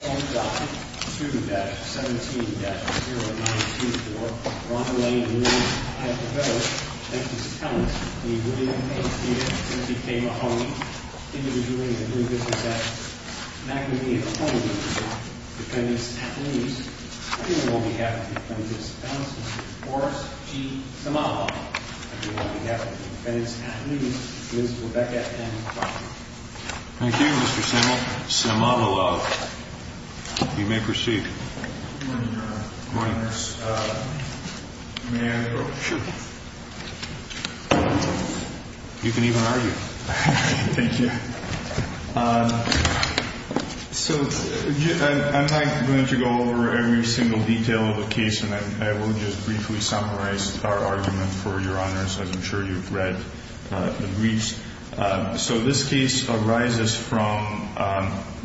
Home Docket 2-17-0924, Ronald Lane v. Hyde & Co. Thank you, Mr. Townsend v. William A. Peters v. K. Mahoney Individually and as a group, this is at Magnolia, Oklahoma. Defendants at least. On behalf of Defendants at least, Ms. Rebecca M. Crawford. Thank you, Mr. Simmel. You may proceed. Good morning, Your Honor. Good morning. May I? Sure. You can even argue. Thank you. So I'm not going to go over every single detail of the case, and I will just briefly summarize our argument for Your Honor's, as I'm sure you've read the briefs. So this case arises from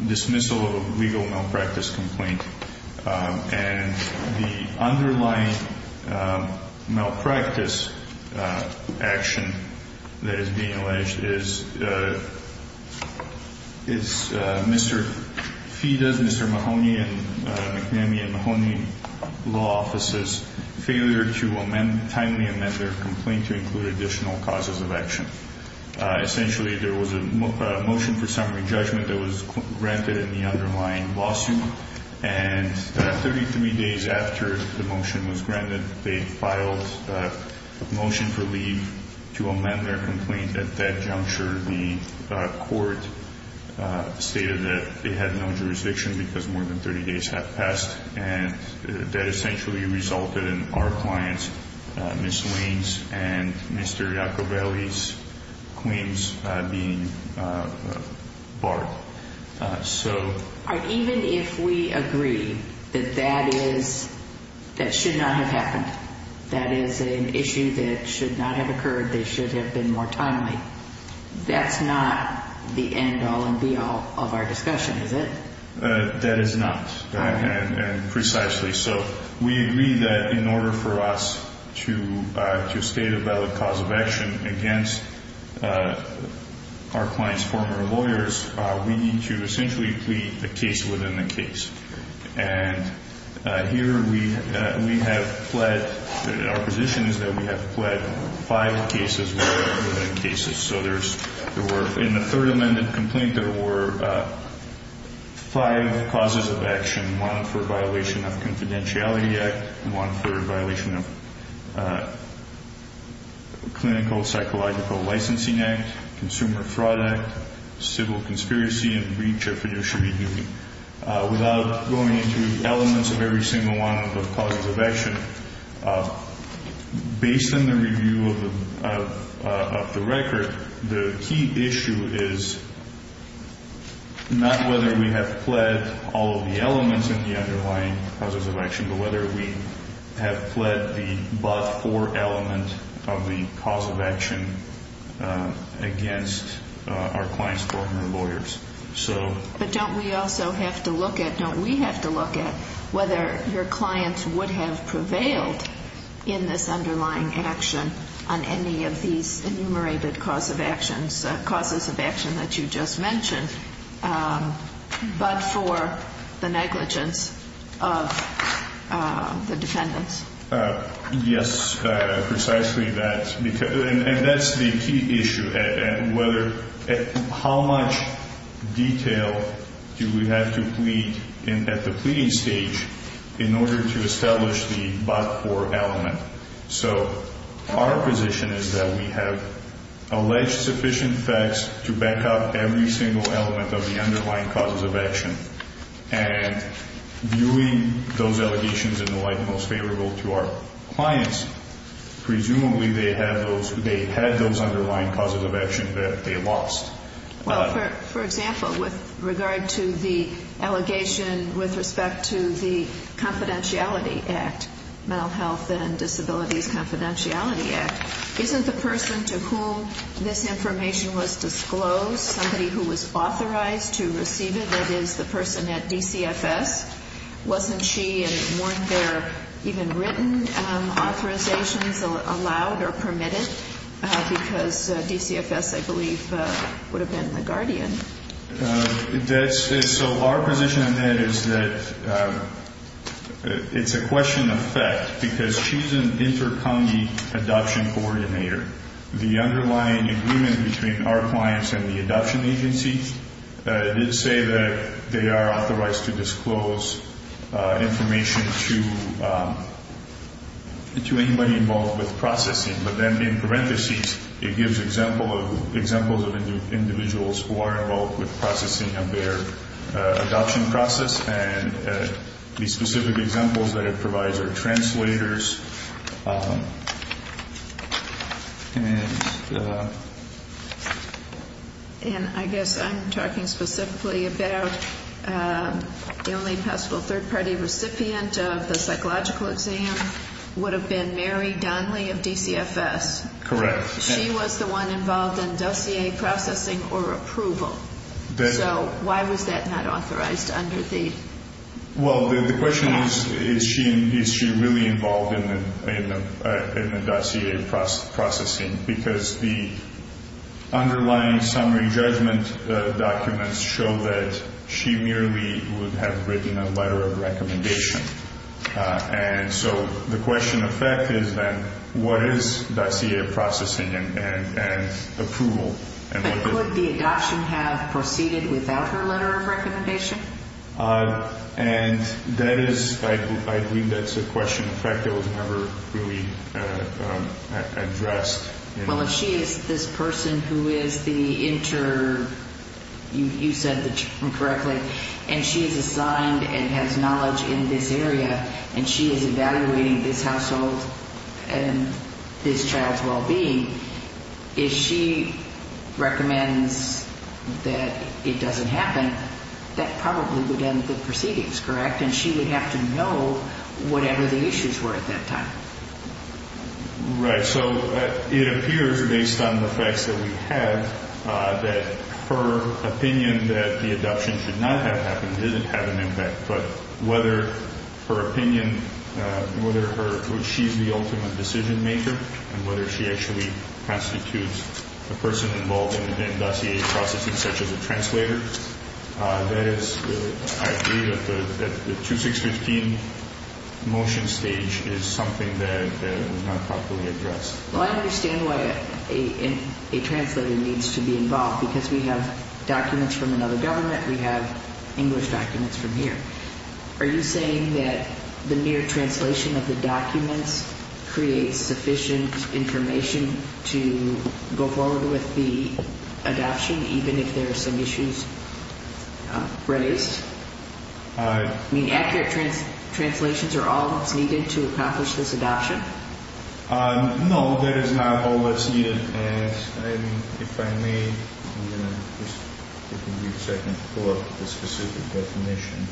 dismissal of a legal malpractice complaint. And the underlying malpractice action that is being alleged is Mr. Feda's, Mr. Mahoney and McNamee and Mahoney Law Offices' failure to timely amend their complaint to include additional causes of action. Essentially, there was a motion for summary judgment that was granted in the underlying lawsuit. And 33 days after the motion was granted, they filed a motion for leave to amend their complaint at that juncture. The court stated that they had no jurisdiction because more than 30 days had passed. And that essentially resulted in our clients, Ms. Waynes and Mr. Iacobelli's claims being barred. Even if we agree that that should not have happened, that is an issue that should not have occurred, they should have been more timely, that's not the end all and be all of our discussion, is it? That is not, and precisely so. We agree that in order for us to state a valid cause of action against our client's former lawyers, we need to essentially plead the case within the case. And here we have pled, our position is that we have pled five cases within cases. So there were, in the third amended complaint, there were five causes of action. One for violation of confidentiality act, one for violation of clinical psychological licensing act, consumer fraud act, civil conspiracy and breach of fiduciary duty. Without going into the elements of every single one of the causes of action, based on the review of the record, the key issue is not whether we have pled all of the elements in the underlying causes of action, but whether we have pled the but for element of the cause of action against our client's former lawyers. But don't we also have to look at, don't we have to look at whether your client would have prevailed in this underlying action on any of these enumerated causes of action that you just mentioned, but for the negligence of the defendants? Yes, precisely that. And that's the key issue, how much detail do we have to plead at the pleading stage in order to establish the but for element. So our position is that we have alleged sufficient facts to back up every single element of the underlying causes of action. And viewing those allegations in the light most favorable to our clients, presumably they had those underlying causes of action that they lost. Well, for example, with regard to the allegation with respect to the confidentiality act, mental health and disabilities confidentiality act, isn't the person to whom this information was disclosed, somebody who was authorized to receive it, that is the person at DCFS, wasn't she and weren't there even written authorizations allowed or permitted? Because DCFS, I believe, would have been the guardian. So our position on that is that it's a question of fact, because she's an inter-congee adoption coordinator. The underlying agreement between our clients and the adoption agencies did say that they are authorized to disclose information to anybody involved with processing. But then in parentheses, it gives examples of individuals who are involved with processing of their adoption process. And the specific examples that it provides are translators. And I guess I'm talking specifically about the only possible third-party recipient of the psychological exam would have been Mary Donnelly of DCFS. Correct. She was the one involved in dossier processing or approval. So why was that not authorized under the? Well, the question is, is she really involved in the dossier processing? Because the underlying summary judgment documents show that she merely would have written a letter of recommendation. And so the question of fact is then, what is dossier processing and approval? But could the adoption have proceeded without her letter of recommendation? And that is, I believe that's a question of fact that was never really addressed. Well, if she is this person who is the inter, you said the term correctly, and she is assigned and has knowledge in this area, and she is evaluating this household and this child's well-being, if she recommends that it doesn't happen, that probably would end the proceedings, correct? And she would have to know whatever the issues were at that time. Right. So it appears, based on the facts that we have, that her opinion that the adoption should not have happened doesn't have an impact. But whether her opinion, whether she's the ultimate decision-maker and whether she actually constitutes a person involved in dossier processing such as a translator, that is, I agree that the 2615 motion stage is something that was not properly addressed. Well, I understand why a translator needs to be involved, because we have documents from another government, we have English documents from here. Are you saying that the mere translation of the documents creates sufficient information to go forward with the adoption, even if there are some issues raised? I mean, accurate translations are all that's needed to accomplish this adoption? No, that is not all that's needed. And if I may, just give me a second to pull up the specific definition.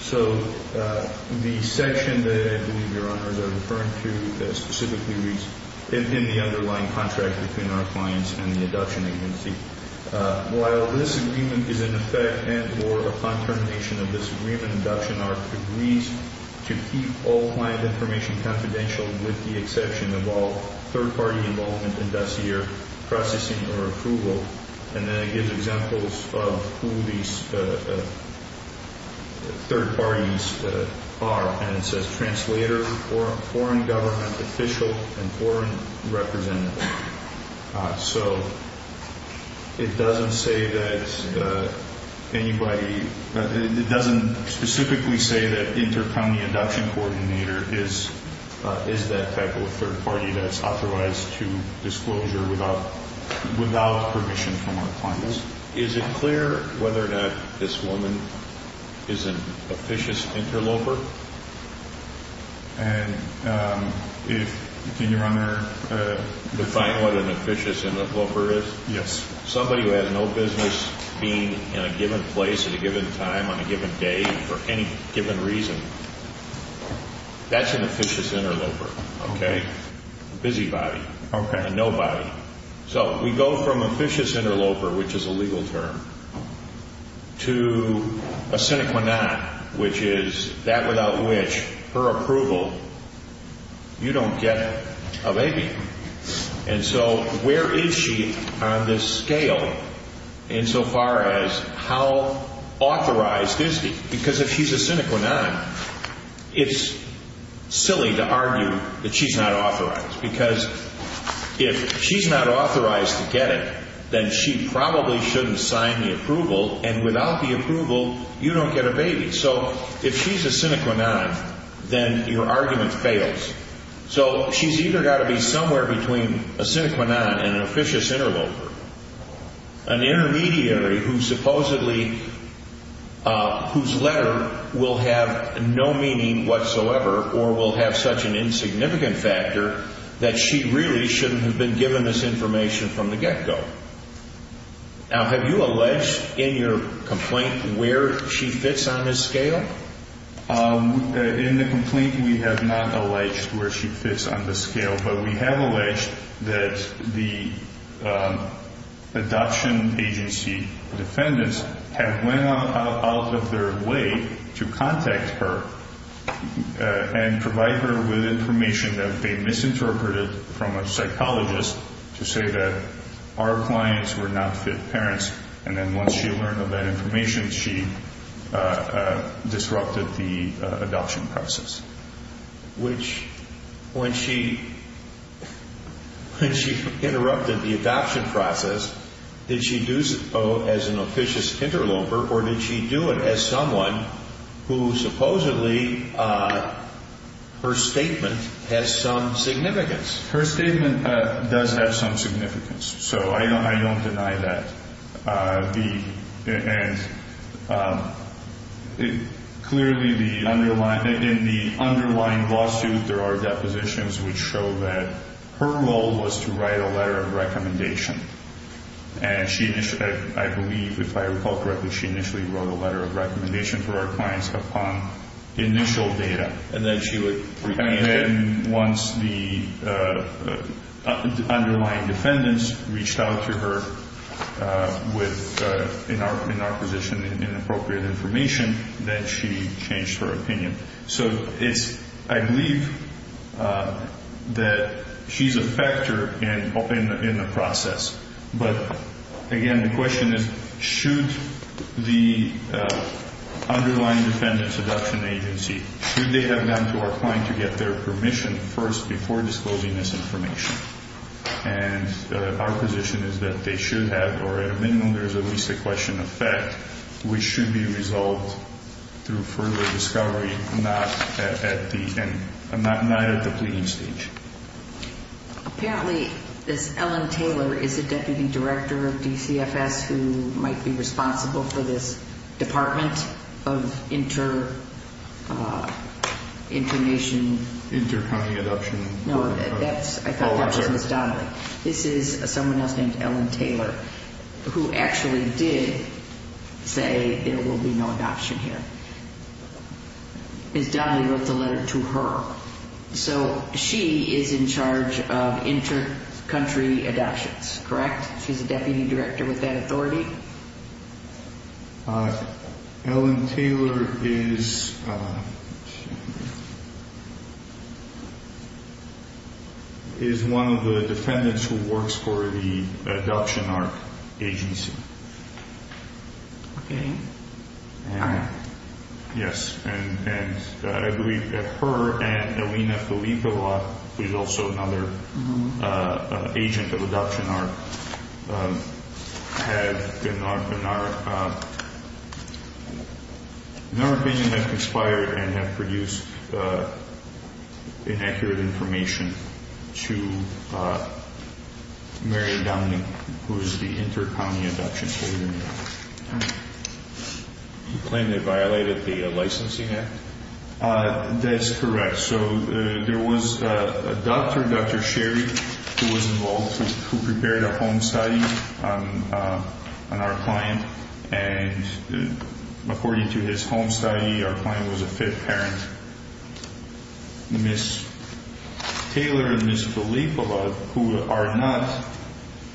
So the section that I believe Your Honors are referring to specifically reads, in the underlying contract between our clients and the adoption agency, while this agreement is in effect and or upon termination of this agreement, adoption art agrees to keep all client information confidential with the exception of all third-party involvement in dossier processing or approval. And then it gives examples of who these third parties are. And it says translator, foreign government official, and foreign representative. So it doesn't say that anybody, it doesn't specifically say that inter-county adoption coordinator is that type of third party that's authorized to disclosure without permission from our clients. Is it clear whether or not this woman is an officious interloper? And can Your Honor define what an officious interloper is? Yes. Somebody who has no business being in a given place at a given time on a given day for any given reason, that's an officious interloper. Okay. A busybody. Okay. A nobody. So we go from officious interloper, which is a legal term, to a sine qua non, which is that without which her approval, you don't get a baby. And so where is she on this scale insofar as how authorized is she? Because if she's a sine qua non, it's silly to argue that she's not authorized. Because if she's not authorized to get it, then she probably shouldn't sign the approval, and without the approval, you don't get a baby. So if she's a sine qua non, then your argument fails. So she's either got to be somewhere between a sine qua non and an officious interloper. An intermediary whose letter will have no meaning whatsoever or will have such an insignificant factor that she really shouldn't have been given this information from the get-go. Now, have you alleged in your complaint where she fits on this scale? In the complaint, we have not alleged where she fits on the scale. But we have alleged that the adoption agency defendants have went out of their way to contact her and provide her with information that they misinterpreted from a psychologist to say that our clients were not fit parents. And then once she learned of that information, she disrupted the adoption process. When she interrupted the adoption process, did she do so as an officious interloper, or did she do it as someone who supposedly her statement has some significance? Her statement does have some significance, so I don't deny that. And clearly, in the underlying lawsuit, there are depositions which show that her role was to write a letter of recommendation. And I believe, if I recall correctly, she initially wrote a letter of recommendation for our clients upon initial data. And then once the underlying defendants reached out to her with, in our position, inappropriate information, then she changed her opinion. So I believe that she's a factor in the process. But again, the question is, should the underlying defendant's adoption agency, should they have gone to our client to get their permission first before disclosing this information? And our position is that they should have, or at a minimum, there is at least a question of fact, which should be resolved through further discovery, not at the pleading stage. Apparently, this Ellen Taylor is a deputy director of DCFS who might be responsible for this department of inter-nation. Inter-county adoption. No, that's, I thought that was Ms. Donnelly. This is someone else named Ellen Taylor, who actually did say there will be no adoption here. Ms. Donnelly wrote the letter to her. So she is in charge of inter-country adoptions, correct? She's a deputy director with that authority? Ellen Taylor is one of the defendants who works for the adoption art agency. Okay. Yes. And I believe that her and Alina Filippova, who is also another agent of adoption art, have been our, in our opinion, have conspired and have produced inaccurate information to Mary Donnelly, who is the inter-county adoption coordinator. You claim they violated the licensing act? That's correct. So there was a doctor, Dr. Sherry, who was involved, who prepared a home study on our client. And according to his home study, our client was a fit parent. Ms. Taylor and Ms. Filippova, who are not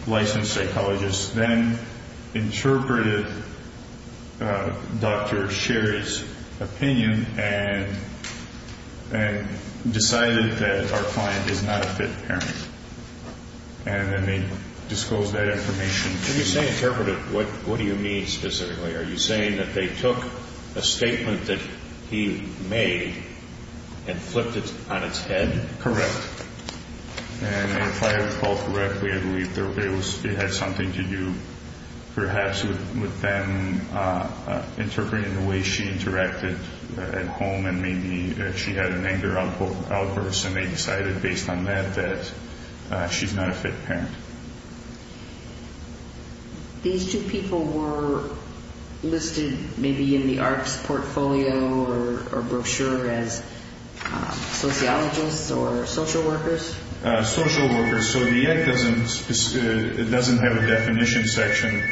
licensed psychologists, then interpreted Dr. Sherry's opinion and decided that our client is not a fit parent. And then they disclosed that information. When you say interpreted, what do you mean specifically? Are you saying that they took a statement that he made and flipped it on its head? Correct. And if I recall correctly, I believe it had something to do perhaps with them interpreting the way she interacted at home and maybe she had an anger outburst. And they decided based on that that she's not a fit parent. These two people were listed maybe in the arts portfolio or brochure as sociologists or social workers? Social workers. So the act doesn't have a definition section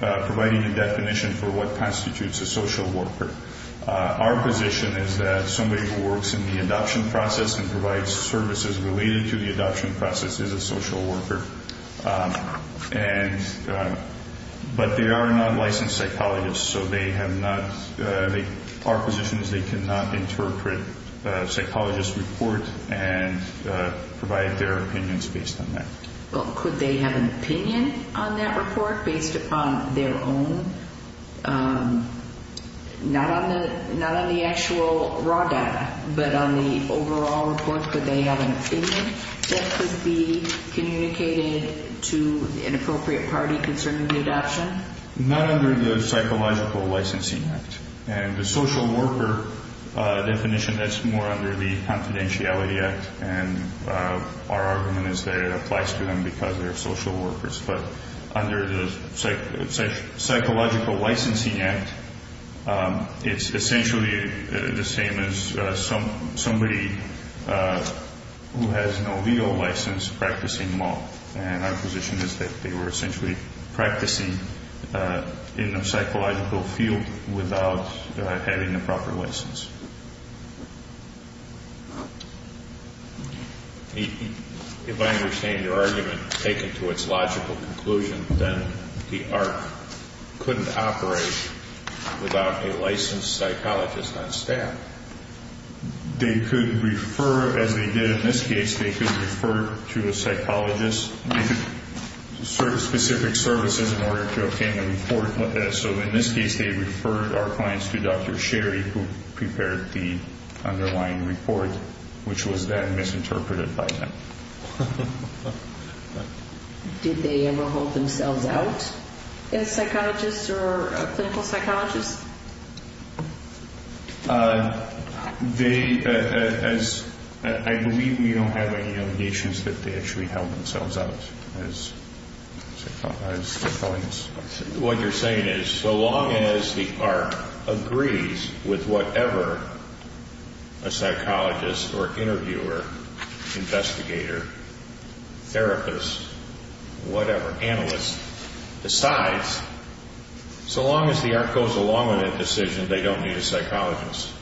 providing a definition for what constitutes a social worker. Our position is that somebody who works in the adoption process and provides services related to the adoption process is a social worker. But they are not licensed psychologists, so our position is they cannot interpret a psychologist's report and provide their opinions based on that. Well, could they have an opinion on that report based upon their own, not on the actual raw data, but on the overall report? Could they have an opinion that could be communicated to an appropriate party concerning the adoption? Not under the Psychological Licensing Act. And the social worker definition, that's more under the Confidentiality Act. And our argument is that it applies to them because they're social workers. But under the Psychological Licensing Act, it's essentially the same as somebody who has no legal license practicing law. And our position is that they were essentially practicing in a psychological field without having a proper license. If I understand your argument taken to its logical conclusion, then the ARC couldn't operate without a licensed psychologist on staff. They could refer, as they did in this case, they could refer to a psychologist. They could serve specific services in order to obtain a report. So in this case, they referred our clients to Dr. Sherry, who prepared the underlying report, which was then misinterpreted by them. Did they ever hold themselves out as psychologists or clinical psychologists? I believe we don't have any issues that they actually held themselves out as psychologists. What you're saying is, so long as the ARC agrees with whatever a psychologist or interviewer, investigator, therapist, whatever, analyst decides, so long as the ARC goes along with that decision, they don't need a psychologist.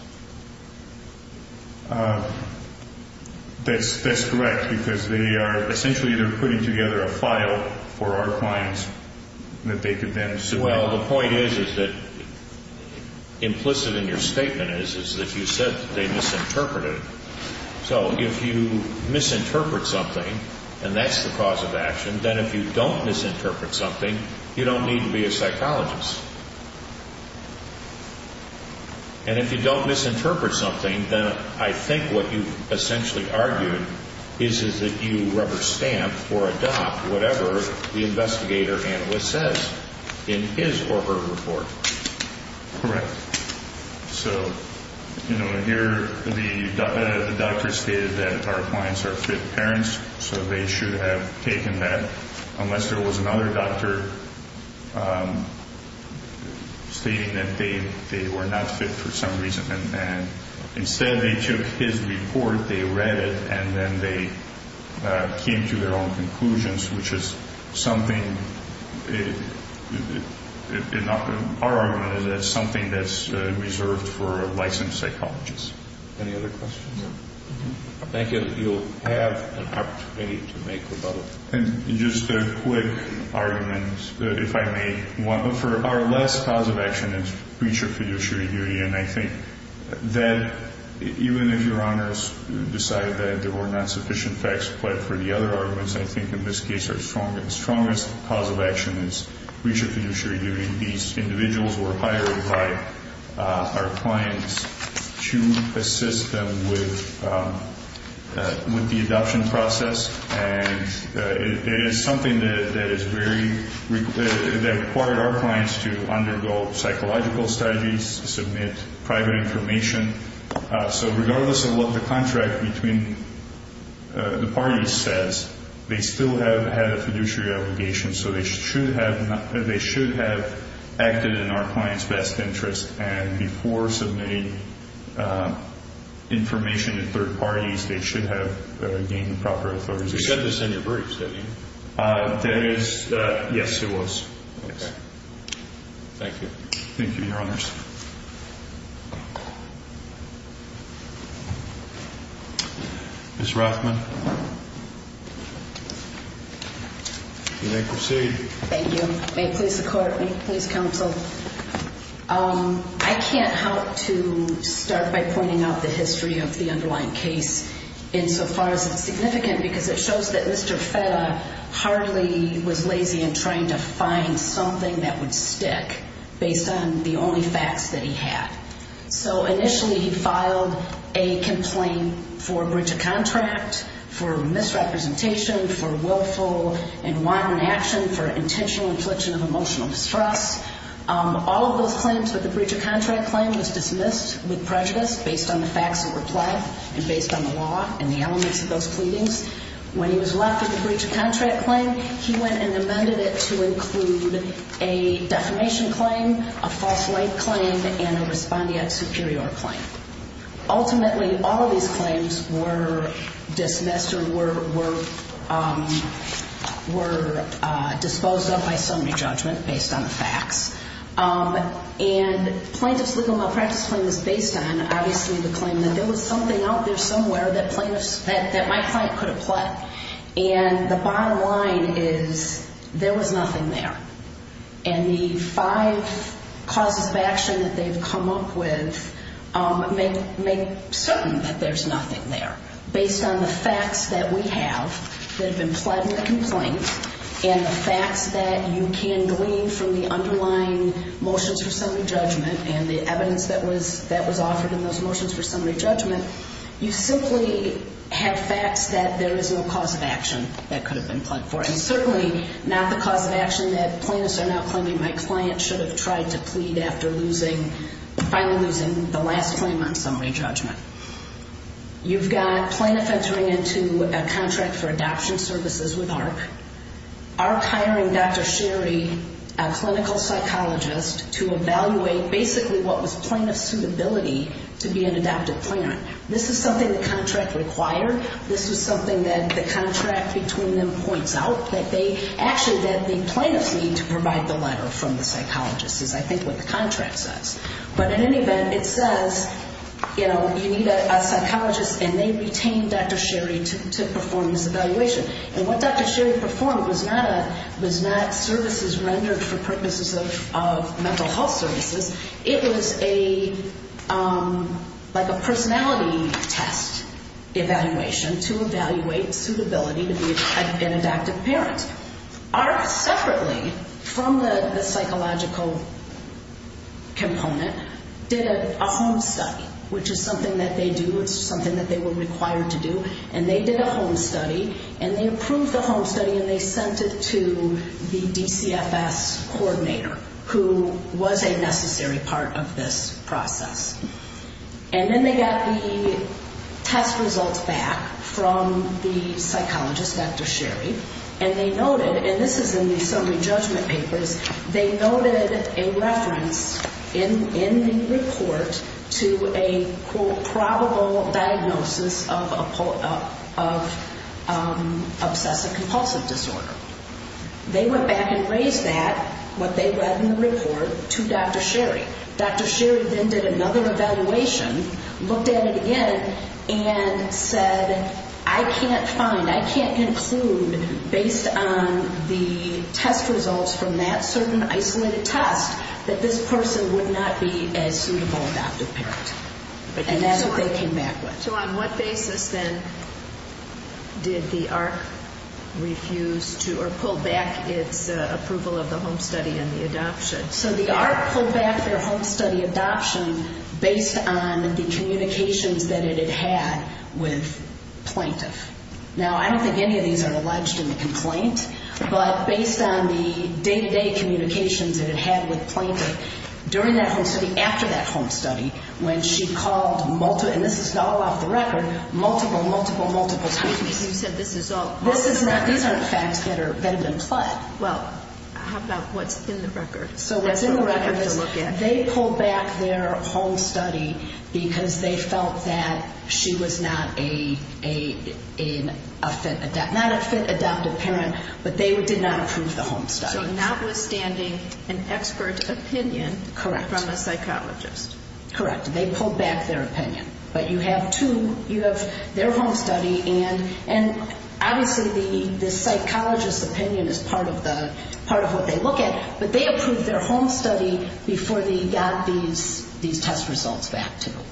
That's correct, because they are essentially putting together a file for our clients that they could then submit. Well, the point is that implicit in your statement is that you said that they misinterpreted it. So if you misinterpret something, and that's the cause of action, then if you don't misinterpret something, you don't need to be a psychologist. And if you don't misinterpret something, then I think what you essentially argued is that you rubber stamp or adopt whatever the investigator or analyst says in his or her report. Correct. So, you know, here the doctor stated that our clients are fit parents, so they should have taken that, unless there was another doctor stating that they were not fit for some reason. And instead they took his report, they read it, and then they came to their own conclusions, which is something, in our argument, that's something that's reserved for a licensed psychologist. Any other questions? Thank you. You'll have an opportunity to make rebuttals. And just a quick argument, if I may, for our last cause of action is preacher-fiduciary duty. And I think that even if Your Honors decide that there were not sufficient facts applied for the other arguments, I think in this case our strongest cause of action is preacher-fiduciary duty. These individuals were hired by our clients to assist them with the adoption process. And it is something that required our clients to undergo psychological strategies, submit private information. So regardless of what the contract between the parties says, they still have had a fiduciary obligation. So they should have acted in our client's best interest. And before submitting information to third parties, they should have gained proper authority. You said this in your briefs, didn't you? Yes, it was. Okay. Thank you. Thank you, Your Honors. Ms. Rothman, you may proceed. Thank you. May it please the Court. May it please counsel. I can't help to start by pointing out the history of the underlying case insofar as it's significant because it shows that Mr. Feta hardly was lazy in trying to find something that would stick based on the only facts that he had. So initially he filed a complaint for breach of contract, for misrepresentation, for willful and wanton action, for intentional infliction of emotional distress. All of those claims, but the breach of contract claim was dismissed with prejudice based on the facts that were played and based on the law and the elements of those pleadings. When he was left with the breach of contract claim, he went and amended it to include a defamation claim, a false light claim, and a respondeat superior claim. Ultimately, all of these claims were dismissed or were disposed of by summary judgment based on the facts. And plaintiff's legal malpractice claim was based on, obviously, the claim that there was something out there somewhere that my client could have pled. And the bottom line is there was nothing there. And the five causes of action that they've come up with make certain that there's nothing there. Based on the facts that we have that have been pled in the complaint and the facts that you can glean from the underlying motions for summary judgment and the evidence that was offered in those motions for summary judgment, you simply have facts that there is no cause of action that could have been pled for. And certainly not the cause of action that plaintiffs are now claiming my client should have tried to plead after finally losing the last claim on summary judgment. You've got plaintiff entering into a contract for adoption services with AHRQ, AHRQ hiring Dr. Sherry, a clinical psychologist, to evaluate basically what was plaintiff's suitability to be an adoptive parent. This is something the contract required. This is something that the contract between them points out, that they actually, that the plaintiffs need to provide the letter from the psychologist, is I think what the contract says. But in any event, it says, you know, you need a psychologist, and they retain Dr. Sherry to perform this evaluation. And what Dr. Sherry performed was not services rendered for purposes of mental health services. It was a, like a personality test evaluation to evaluate suitability to be an adoptive parent. AHRQ separately, from the psychological component, did a home study, which is something that they do, it's something that they were required to do. And they did a home study, and they approved the home study, and they sent it to the DCFS coordinator, who was a necessary part of this process. And then they got the test results back from the psychologist, Dr. Sherry, and they noted, and this is in the summary judgment papers, they noted a reference in the report to a, quote, probable diagnosis of obsessive-compulsive disorder. They went back and raised that, what they read in the report, to Dr. Sherry. Dr. Sherry then did another evaluation, looked at it again, and said, I can't find, I can't conclude, based on the test results from that certain isolated test, that this person would not be a suitable adoptive parent. And that's what they came back with. So on what basis, then, did the AHRQ refuse to, or pull back its approval of the home study and the adoption? So the AHRQ pulled back their home study adoption based on the communications that it had with plaintiff. Now, I don't think any of these are alleged in the complaint, but based on the day-to-day communications that it had with plaintiff during that home study, after that home study, when she called multiple, and this is all off the record, multiple, multiple, multiple times. Excuse me, you said this is all. This is not, these aren't facts that are, that have been pled. Well, how about what's in the record? So what's in the record is they pulled back their home study because they felt that she was not a fit, not a fit adoptive parent, but they did not approve the home study. So notwithstanding an expert opinion from a psychologist. Correct. They pulled back their opinion. But you have two, you have their home study, and obviously the psychologist's opinion is part of the, part of what they look at, but they approved their home study before they got these test results back to them.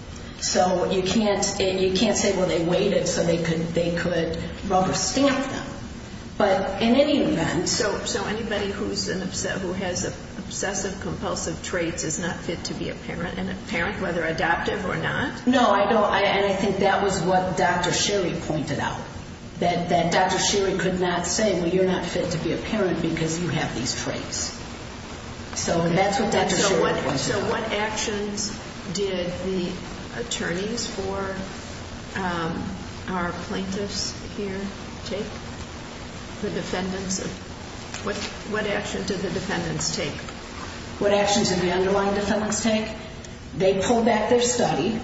So you can't say, well, they waited so they could rubber stamp them. But in any event. So anybody who has obsessive compulsive traits is not fit to be a parent, and a parent, whether adoptive or not? No, I don't, and I think that was what Dr. Sherry pointed out, that Dr. Sherry could not say, well, you're not fit to be a parent because you have these traits. So that's what Dr. Sherry pointed out. So what actions did the attorneys for our plaintiffs here take? The defendants, what action did the defendants take? What actions did the underlying defendants take? They pulled back their study.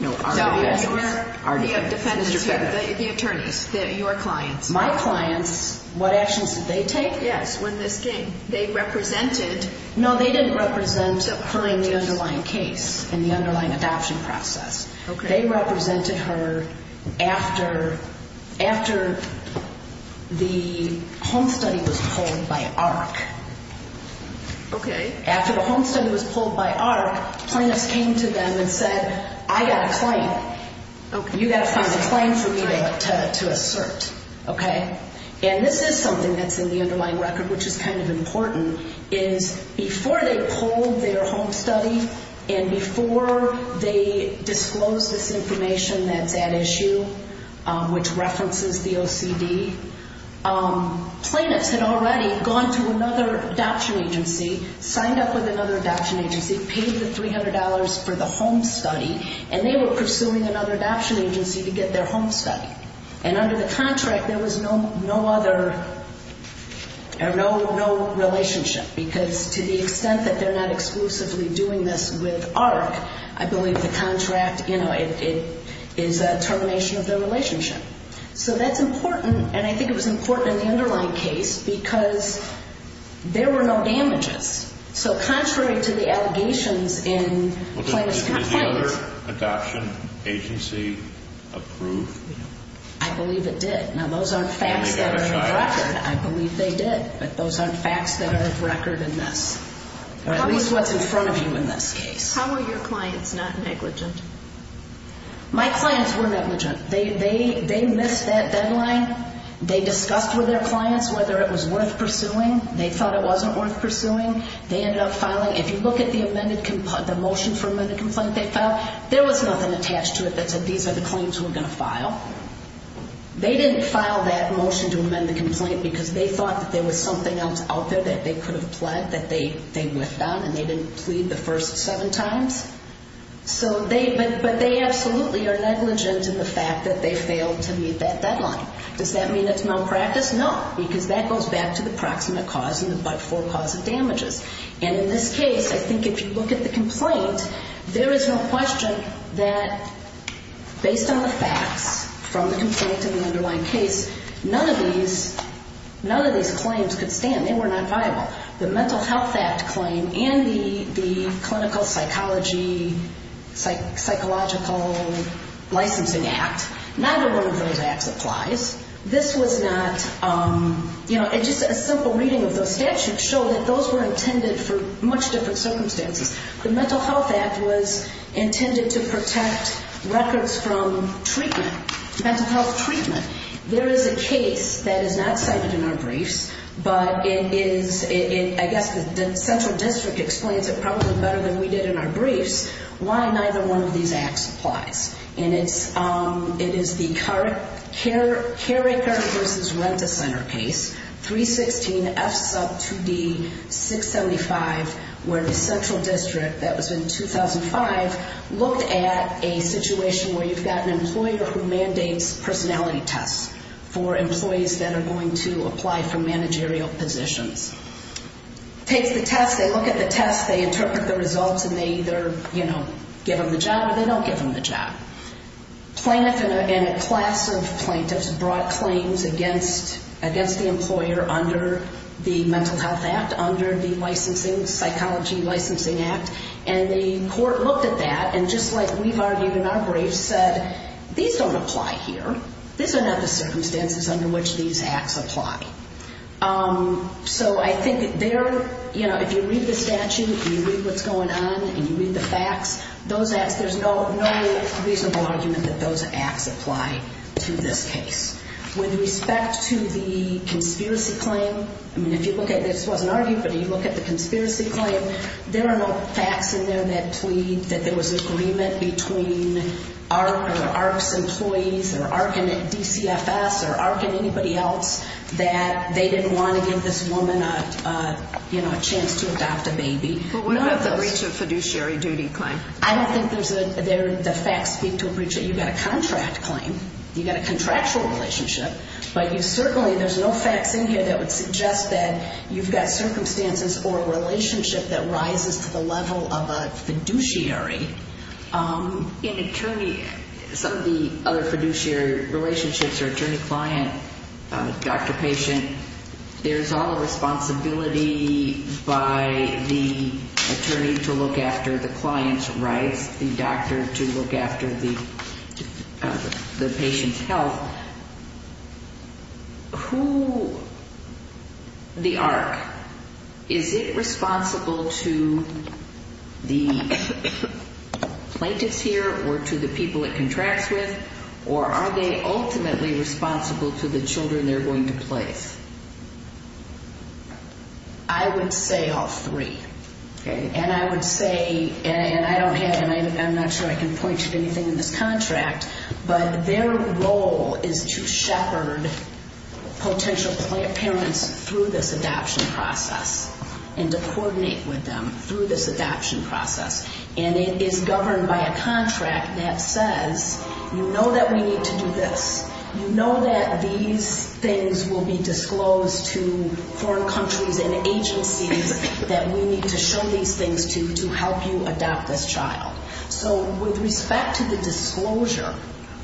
The defendants here, the attorneys, your clients. My clients, what actions did they take? Yes, when this came, they represented. No, they didn't represent her in the underlying case, in the underlying adoption process. They represented her after the home study was pulled by AHRQ. Okay. After the home study was pulled by AHRQ, plaintiffs came to them and said, I got a claim. You got to find a claim for me to assert, okay? And this is something that's in the underlying record, which is kind of important, is before they pulled their home study and before they disclosed this information that's at issue, which references the OCD, plaintiffs had already gone to another adoption agency, signed up with another adoption agency, paid the $300 for the home study, and they were pursuing another adoption agency to get their home study. And under the contract, there was no other, no relationship, because to the extent that they're not exclusively doing this with AHRQ, I believe the contract, you know, it is a termination of their relationship. So that's important, and I think it was important in the underlying case because there were no damages. So contrary to the allegations in plaintiffs' complaints. Was the other adoption agency approved? I believe it did. Now, those aren't facts that are in the record. I believe they did, but those aren't facts that are of record in this, or at least what's in front of you in this case. How were your clients not negligent? My clients were negligent. They missed that deadline. They discussed with their clients whether it was worth pursuing. They thought it wasn't worth pursuing. They ended up filing. If you look at the motion for amended complaint they filed, there was nothing attached to it that said these are the claims we're going to file. They didn't file that motion to amend the complaint because they thought that there was something else out there that they could have pled that they whiffed on, and they didn't plead the first seven times. But they absolutely are negligent in the fact that they failed to meet that deadline. Does that mean it's malpractice? No, because that goes back to the proximate cause and the but-for cause of damages. And in this case, I think if you look at the complaint, there is no question that based on the facts from the complaint and the underlying case, none of these claims could stand. They were not viable. The Mental Health Act claim and the Clinical Psychological Licensing Act, neither one of those acts applies. This was not, you know, just a simple reading of those statutes showed that those were intended for much different circumstances. The Mental Health Act was intended to protect records from treatment, mental health treatment. There is a case that is not cited in our briefs, but it is, I guess the central district explains it probably better than we did in our briefs, why neither one of these acts applies. And it is the Cary Carter v. Rent-a-Center case, 316 F sub 2D 675, where the central district, that was in 2005, looked at a situation where you've got an employer who mandates personality tests for employees that are going to apply for managerial positions. Takes the test, they look at the test, they interpret the results, and they either, you know, give them the job or they don't give them the job. Plaintiff and a class of plaintiffs brought claims against the employer under the Mental Health Act, under the Licensing, Psychology Licensing Act, and the court looked at that and just like we've argued in our briefs, said these don't apply here. These are not the circumstances under which these acts apply. So I think there, you know, if you read the statute and you read what's going on and you read the facts, those acts, there's no reasonable argument that those acts apply to this case. With respect to the conspiracy claim, I mean, if you look at it, this wasn't argued, but if you look at the conspiracy claim, there are no facts in there that plead that there was agreement between ARC or ARC's employees or ARC and DCFS or ARC and anybody else that they didn't want to give this woman, you know, a chance to adopt a baby. But what about the breach of fiduciary duty claim? I don't think the facts speak to a breach. You've got a contract claim, you've got a contractual relationship, but certainly there's no facts in here that would suggest that you've got circumstances or a relationship that rises to the level of a fiduciary. In attorney, some of the other fiduciary relationships are attorney-client, doctor-patient. There's all a responsibility by the attorney to look after the client's rights, the doctor to look after the patient's health. Who, the ARC, is it responsible to the plaintiffs here or to the people it contracts with, or are they ultimately responsible to the children they're going to place? I would say all three, and I would say, and I don't have, and I'm not sure I can point to anything in this contract, but their role is to shepherd potential parents through this adoption process and to coordinate with them through this adoption process. And it is governed by a contract that says, you know that we need to do this. You know that these things will be disclosed to foreign countries and agencies that we need to show these things to to help you adopt this child. So with respect to the disclosure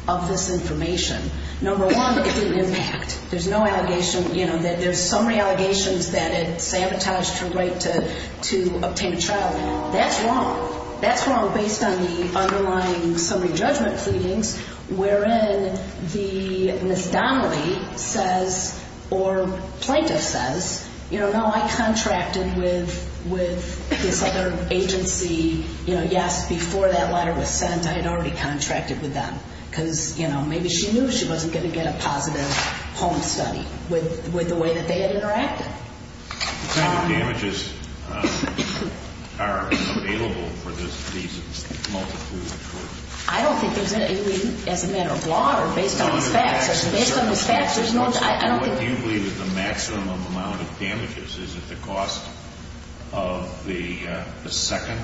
of this information, number one, it didn't impact. There's no allegation, you know, that there's summary allegations that it sabotaged her right to obtain a child. That's wrong. That's wrong based on the underlying summary judgment pleadings wherein the Ms. Donnelly says, or plaintiff says, you know, no, I contracted with this other agency. You know, yes, before that letter was sent, I had already contracted with them because, you know, maybe she knew she wasn't going to get a positive home study with the way that they had interacted. What kind of damages are available for these multiple children? I don't think there's any as a matter of law or based on the facts. What do you believe is the maximum amount of damages? Is it the cost of the second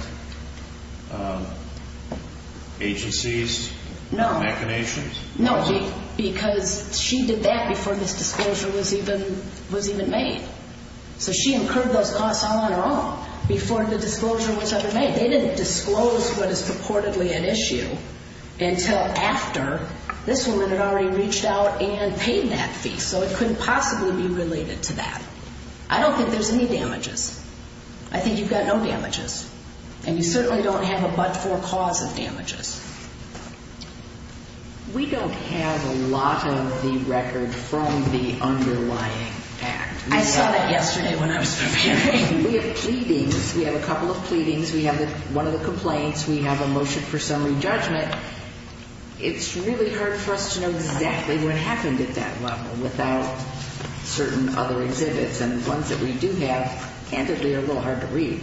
agency's machinations? No, because she did that before this disclosure was even made. So she incurred those costs all on her own before the disclosure was ever made. They didn't disclose what is purportedly an issue until after this woman had already reached out and paid that fee. So it couldn't possibly be related to that. I don't think there's any damages. I think you've got no damages. And you certainly don't have a but-for cause of damages. We don't have a lot of the record from the underlying act. I saw that yesterday when I was interviewing. We have pleadings. We have a couple of pleadings. We have one of the complaints. Once we have a motion for summary judgment, it's really hard for us to know exactly what happened at that level without certain other exhibits. And the ones that we do have, candidly, are a little hard to read.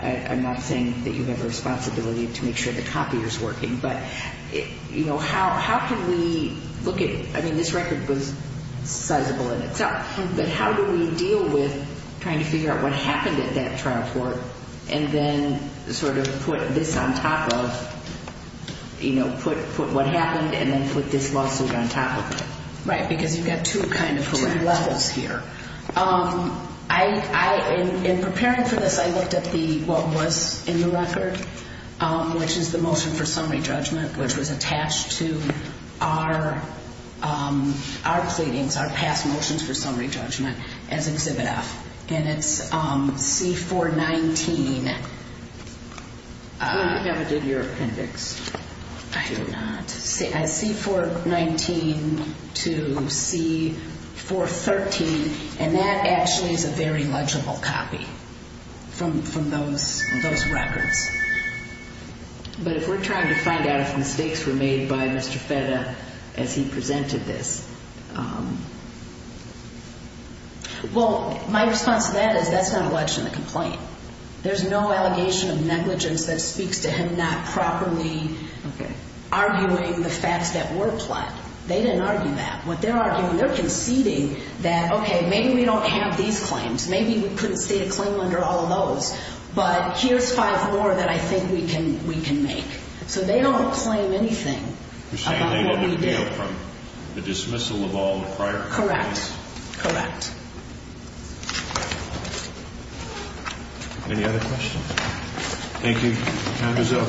I'm not saying that you have a responsibility to make sure the copier is working. But how can we look at it? I mean, this record was sizable in itself. But how do we deal with trying to figure out what happened at that trial court and then sort of put this on top of, you know, put what happened and then put this lawsuit on top of it? Right, because you've got two kind of levels here. In preparing for this, I looked at what was in the record, which is the motion for summary judgment, which was attached to our pleadings, our past motions for summary judgment, as exhibit F. And it's C-419. You never did your appendix. I do not. C-419 to C-413. And that actually is a very legible copy from those records. But if we're trying to find out if mistakes were made by Mr. Fetta as he presented this. Well, my response to that is that's not a legitimate complaint. There's no allegation of negligence that speaks to him not properly arguing the facts that were plot. They didn't argue that. What they're arguing, they're conceding that, okay, maybe we don't have these claims. Maybe we couldn't state a claim under all of those. But here's five more that I think we can make. So they don't claim anything about what we did. You're saying they didn't appeal from the dismissal of all the prior claims? Correct. Correct. Any other questions? Thank you. Time is up.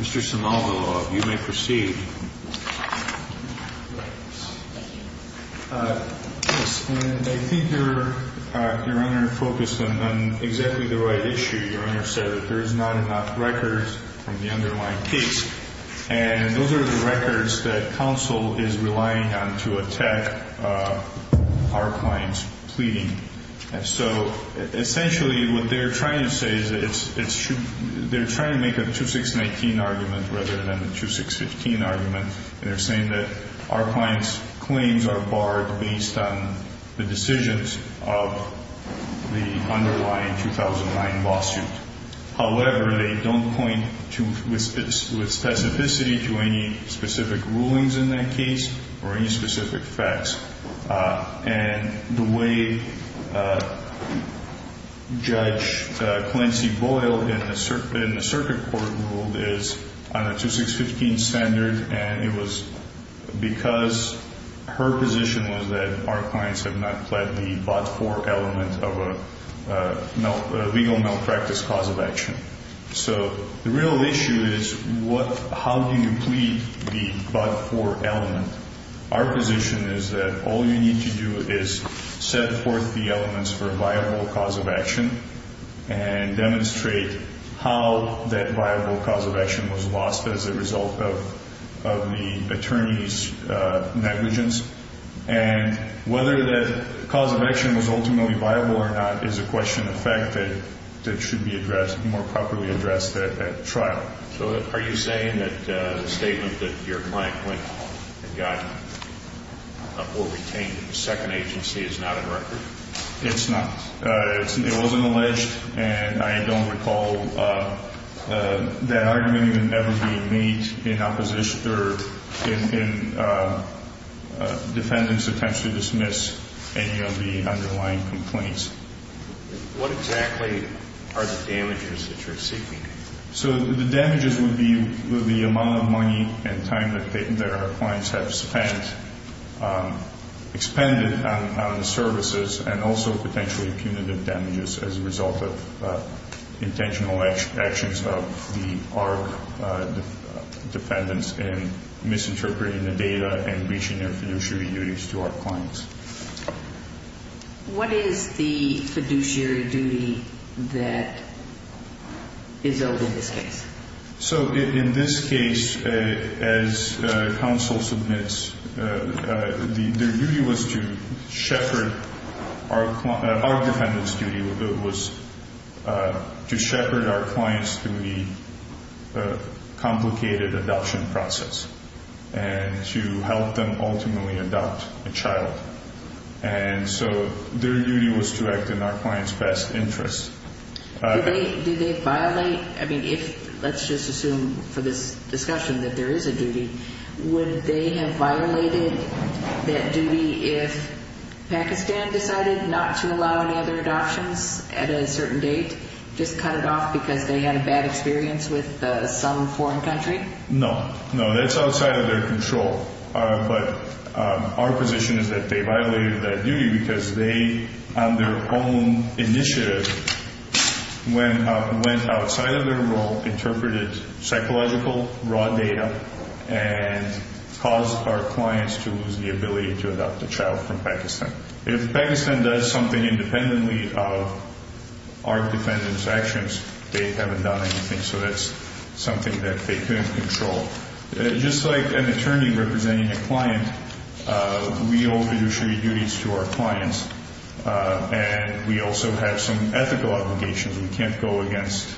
Mr. Simaldo, you may proceed. Thank you. Yes. And I think your Honor focused on exactly the right issue. Your Honor said that there is not enough records from the underlying case. And those are the records that counsel is relying on to attack our client's pleading. And so essentially what they're trying to say is they're trying to make a 2619 argument rather than a 2615 argument. And they're saying that our client's claims are barred based on the decisions of the underlying 2009 lawsuit. However, they don't point with specificity to any specific rulings in that case or any specific facts. And the way Judge Clancy Boyle in the circuit court ruled is on a 2615 standard. And it was because her position was that our clients have not pled the but-for element of a legal malpractice cause of action. So the real issue is how do you plead the but-for element? Our position is that all you need to do is set forth the elements for a viable cause of action and demonstrate how that viable cause of action was lost as a result of the attorney's negligence. And whether that cause of action was ultimately viable or not is a question of fact that should be addressed, more properly addressed at trial. So are you saying that the statement that your client went and got or retained in the second agency is not on record? It's not. It wasn't alleged. And I don't recall that argument even ever being made in opposition or in defendants' attempts to dismiss any of the underlying complaints. What exactly are the damages that you're seeking? So the damages would be the amount of money and time that our clients have spent, expended on the services and also potentially punitive damages as a result of intentional actions of the ARC defendants in misinterpreting the data and breaching their fiduciary duties to our clients. What is the fiduciary duty that is owed in this case? So in this case, as counsel submits, their duty was to shepherd, our defendant's duty was to shepherd our clients through the complicated adoption process and to help them ultimately adopt a child. And so their duty was to act in our client's best interest. Do they violate, I mean, if, let's just assume for this discussion that there is a duty, would they have violated that duty if Pakistan decided not to allow any other adoptions at a certain date, just cut it off because they had a bad experience with some foreign country? No. No, that's outside of their control. But our position is that they violated that duty because they, on their own initiative, went outside of their role, interpreted psychological raw data, and caused our clients to lose the ability to adopt a child from Pakistan. If Pakistan does something independently of our defendant's actions, they haven't done anything. So that's something that they couldn't control. Just like an attorney representing a client, we owe fiduciary duties to our clients. And we also have some ethical obligations. We can't go against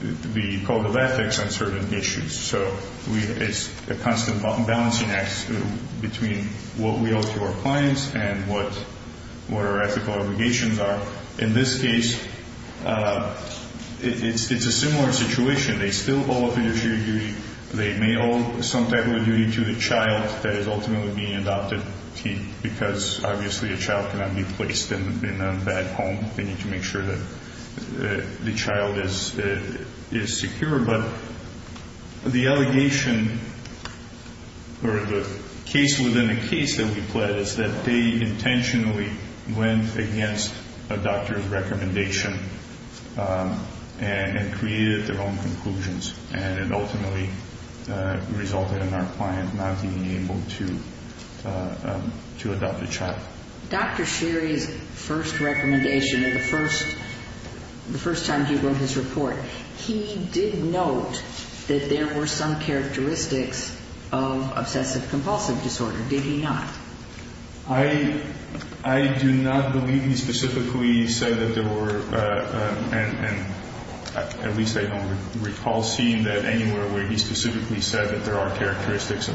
the code of ethics on certain issues. So it's a constant balancing act between what we owe to our clients and what our ethical obligations are. In this case, it's a similar situation. They still owe a fiduciary duty. They may owe some type of a duty to the child that is ultimately being adopted because obviously a child cannot be placed in a bad home. They need to make sure that the child is secure. But the allegation, or the case within a case that we pled, is that they intentionally went against a doctor's recommendation and created their own conclusions. And it ultimately resulted in our client not being able to adopt a child. Dr. Sherry's first recommendation, the first time he wrote his report, he did note that there were some characteristics of obsessive-compulsive disorder. Did he not? I do not believe he specifically said that there were, and at least I don't recall seeing that anywhere where he specifically said that there are characteristics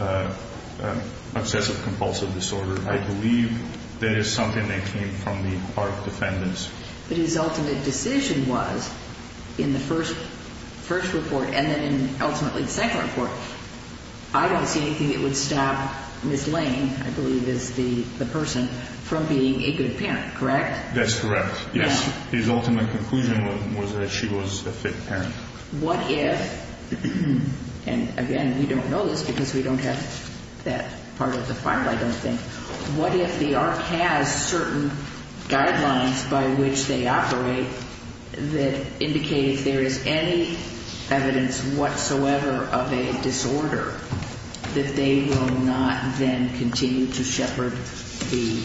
of obsessive-compulsive disorder. I believe that is something that came from the part of defendants. But his ultimate decision was, in the first report and then ultimately the second report, I don't see anything that would stop Ms. Lane, I believe is the person, from being a good parent, correct? That's correct. Yes. His ultimate conclusion was that she was a fit parent. What if, and again, we don't know this because we don't have that part of the file, I don't think. What if the ARC has certain guidelines by which they operate that indicate if there is any evidence whatsoever of a disorder, that they will not then continue to shepherd the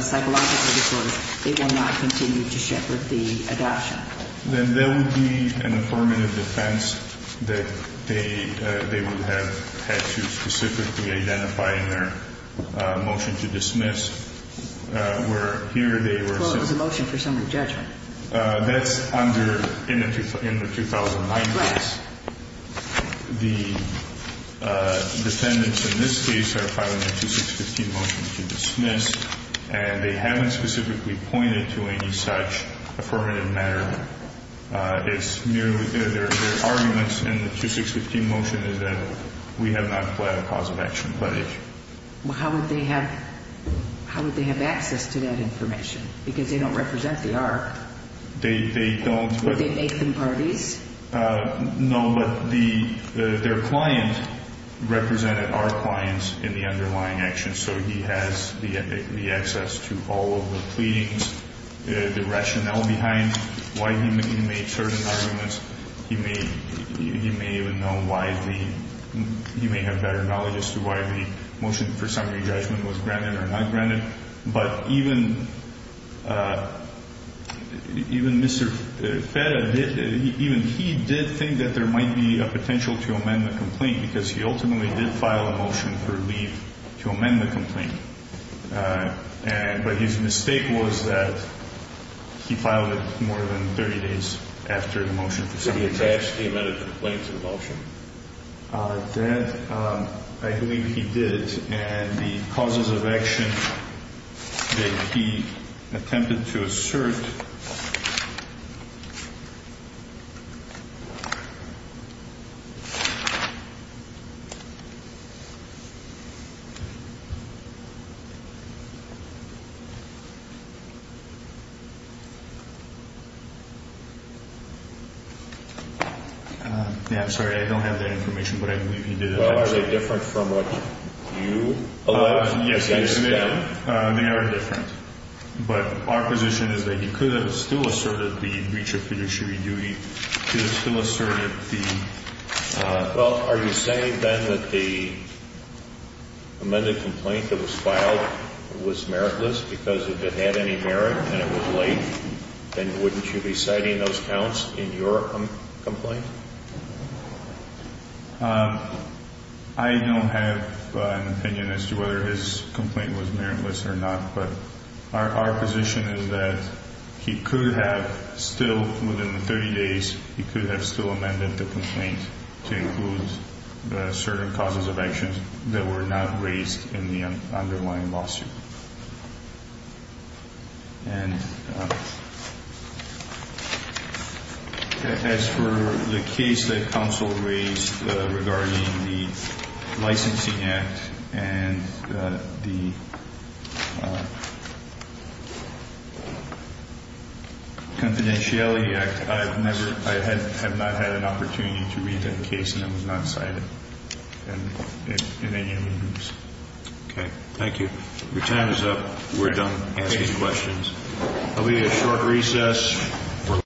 psychological disorders, they will not continue to shepherd the adoption? Then there would be an affirmative defense that they would have had to specifically identify in their motion to dismiss where here they were saying. Well, it was a motion for summary judgment. That's under, in the 2009 case. Correct. The defendants in this case are filing a 2615 motion to dismiss, and they haven't specifically pointed to any such affirmative matter. It's merely, their arguments in the 2615 motion is that we have not planned a cause of action, Well, how would they have access to that information? Because they don't represent the ARC. They don't. Would they make them parties? No, but their client represented our clients in the underlying action, so he has the access to all of the pleadings, the rationale behind why he made certain arguments. He may even know why the, he may have better knowledge as to why the motion for summary judgment was granted or not granted, but even Mr. Feta, even he did think that there might be a potential to amend the complaint, because he ultimately did file a motion for leave to amend the complaint, but his mistake was that he filed it more than 30 days after the motion for summary judgment. Did he attach the amended complaint to the motion? I believe he did, and the causes of action that he attempted to assert. Yeah, I'm sorry, I don't have that information, but I believe he did attach it. Are they different from what you allege? Yes, they are. They are different, but our position is that he could have still asserted the breach of fiduciary duty, Well, are you saying, then, that the amended complaint that was filed was meritless, because if it had any merit and it was late, then wouldn't you be citing those counts in your complaint? I don't have an opinion as to whether his complaint was meritless or not, but our position is that he could have still, within 30 days, he could have still amended the complaint to include certain causes of action that were not raised in the underlying lawsuit. And as for the case that counsel raised regarding the Licensing Act and the Confidentiality Act, I have not had an opportunity to read that case, and it was not cited in any of the rules. Okay, thank you. Your time is up. We're done asking questions. There will be a short recess.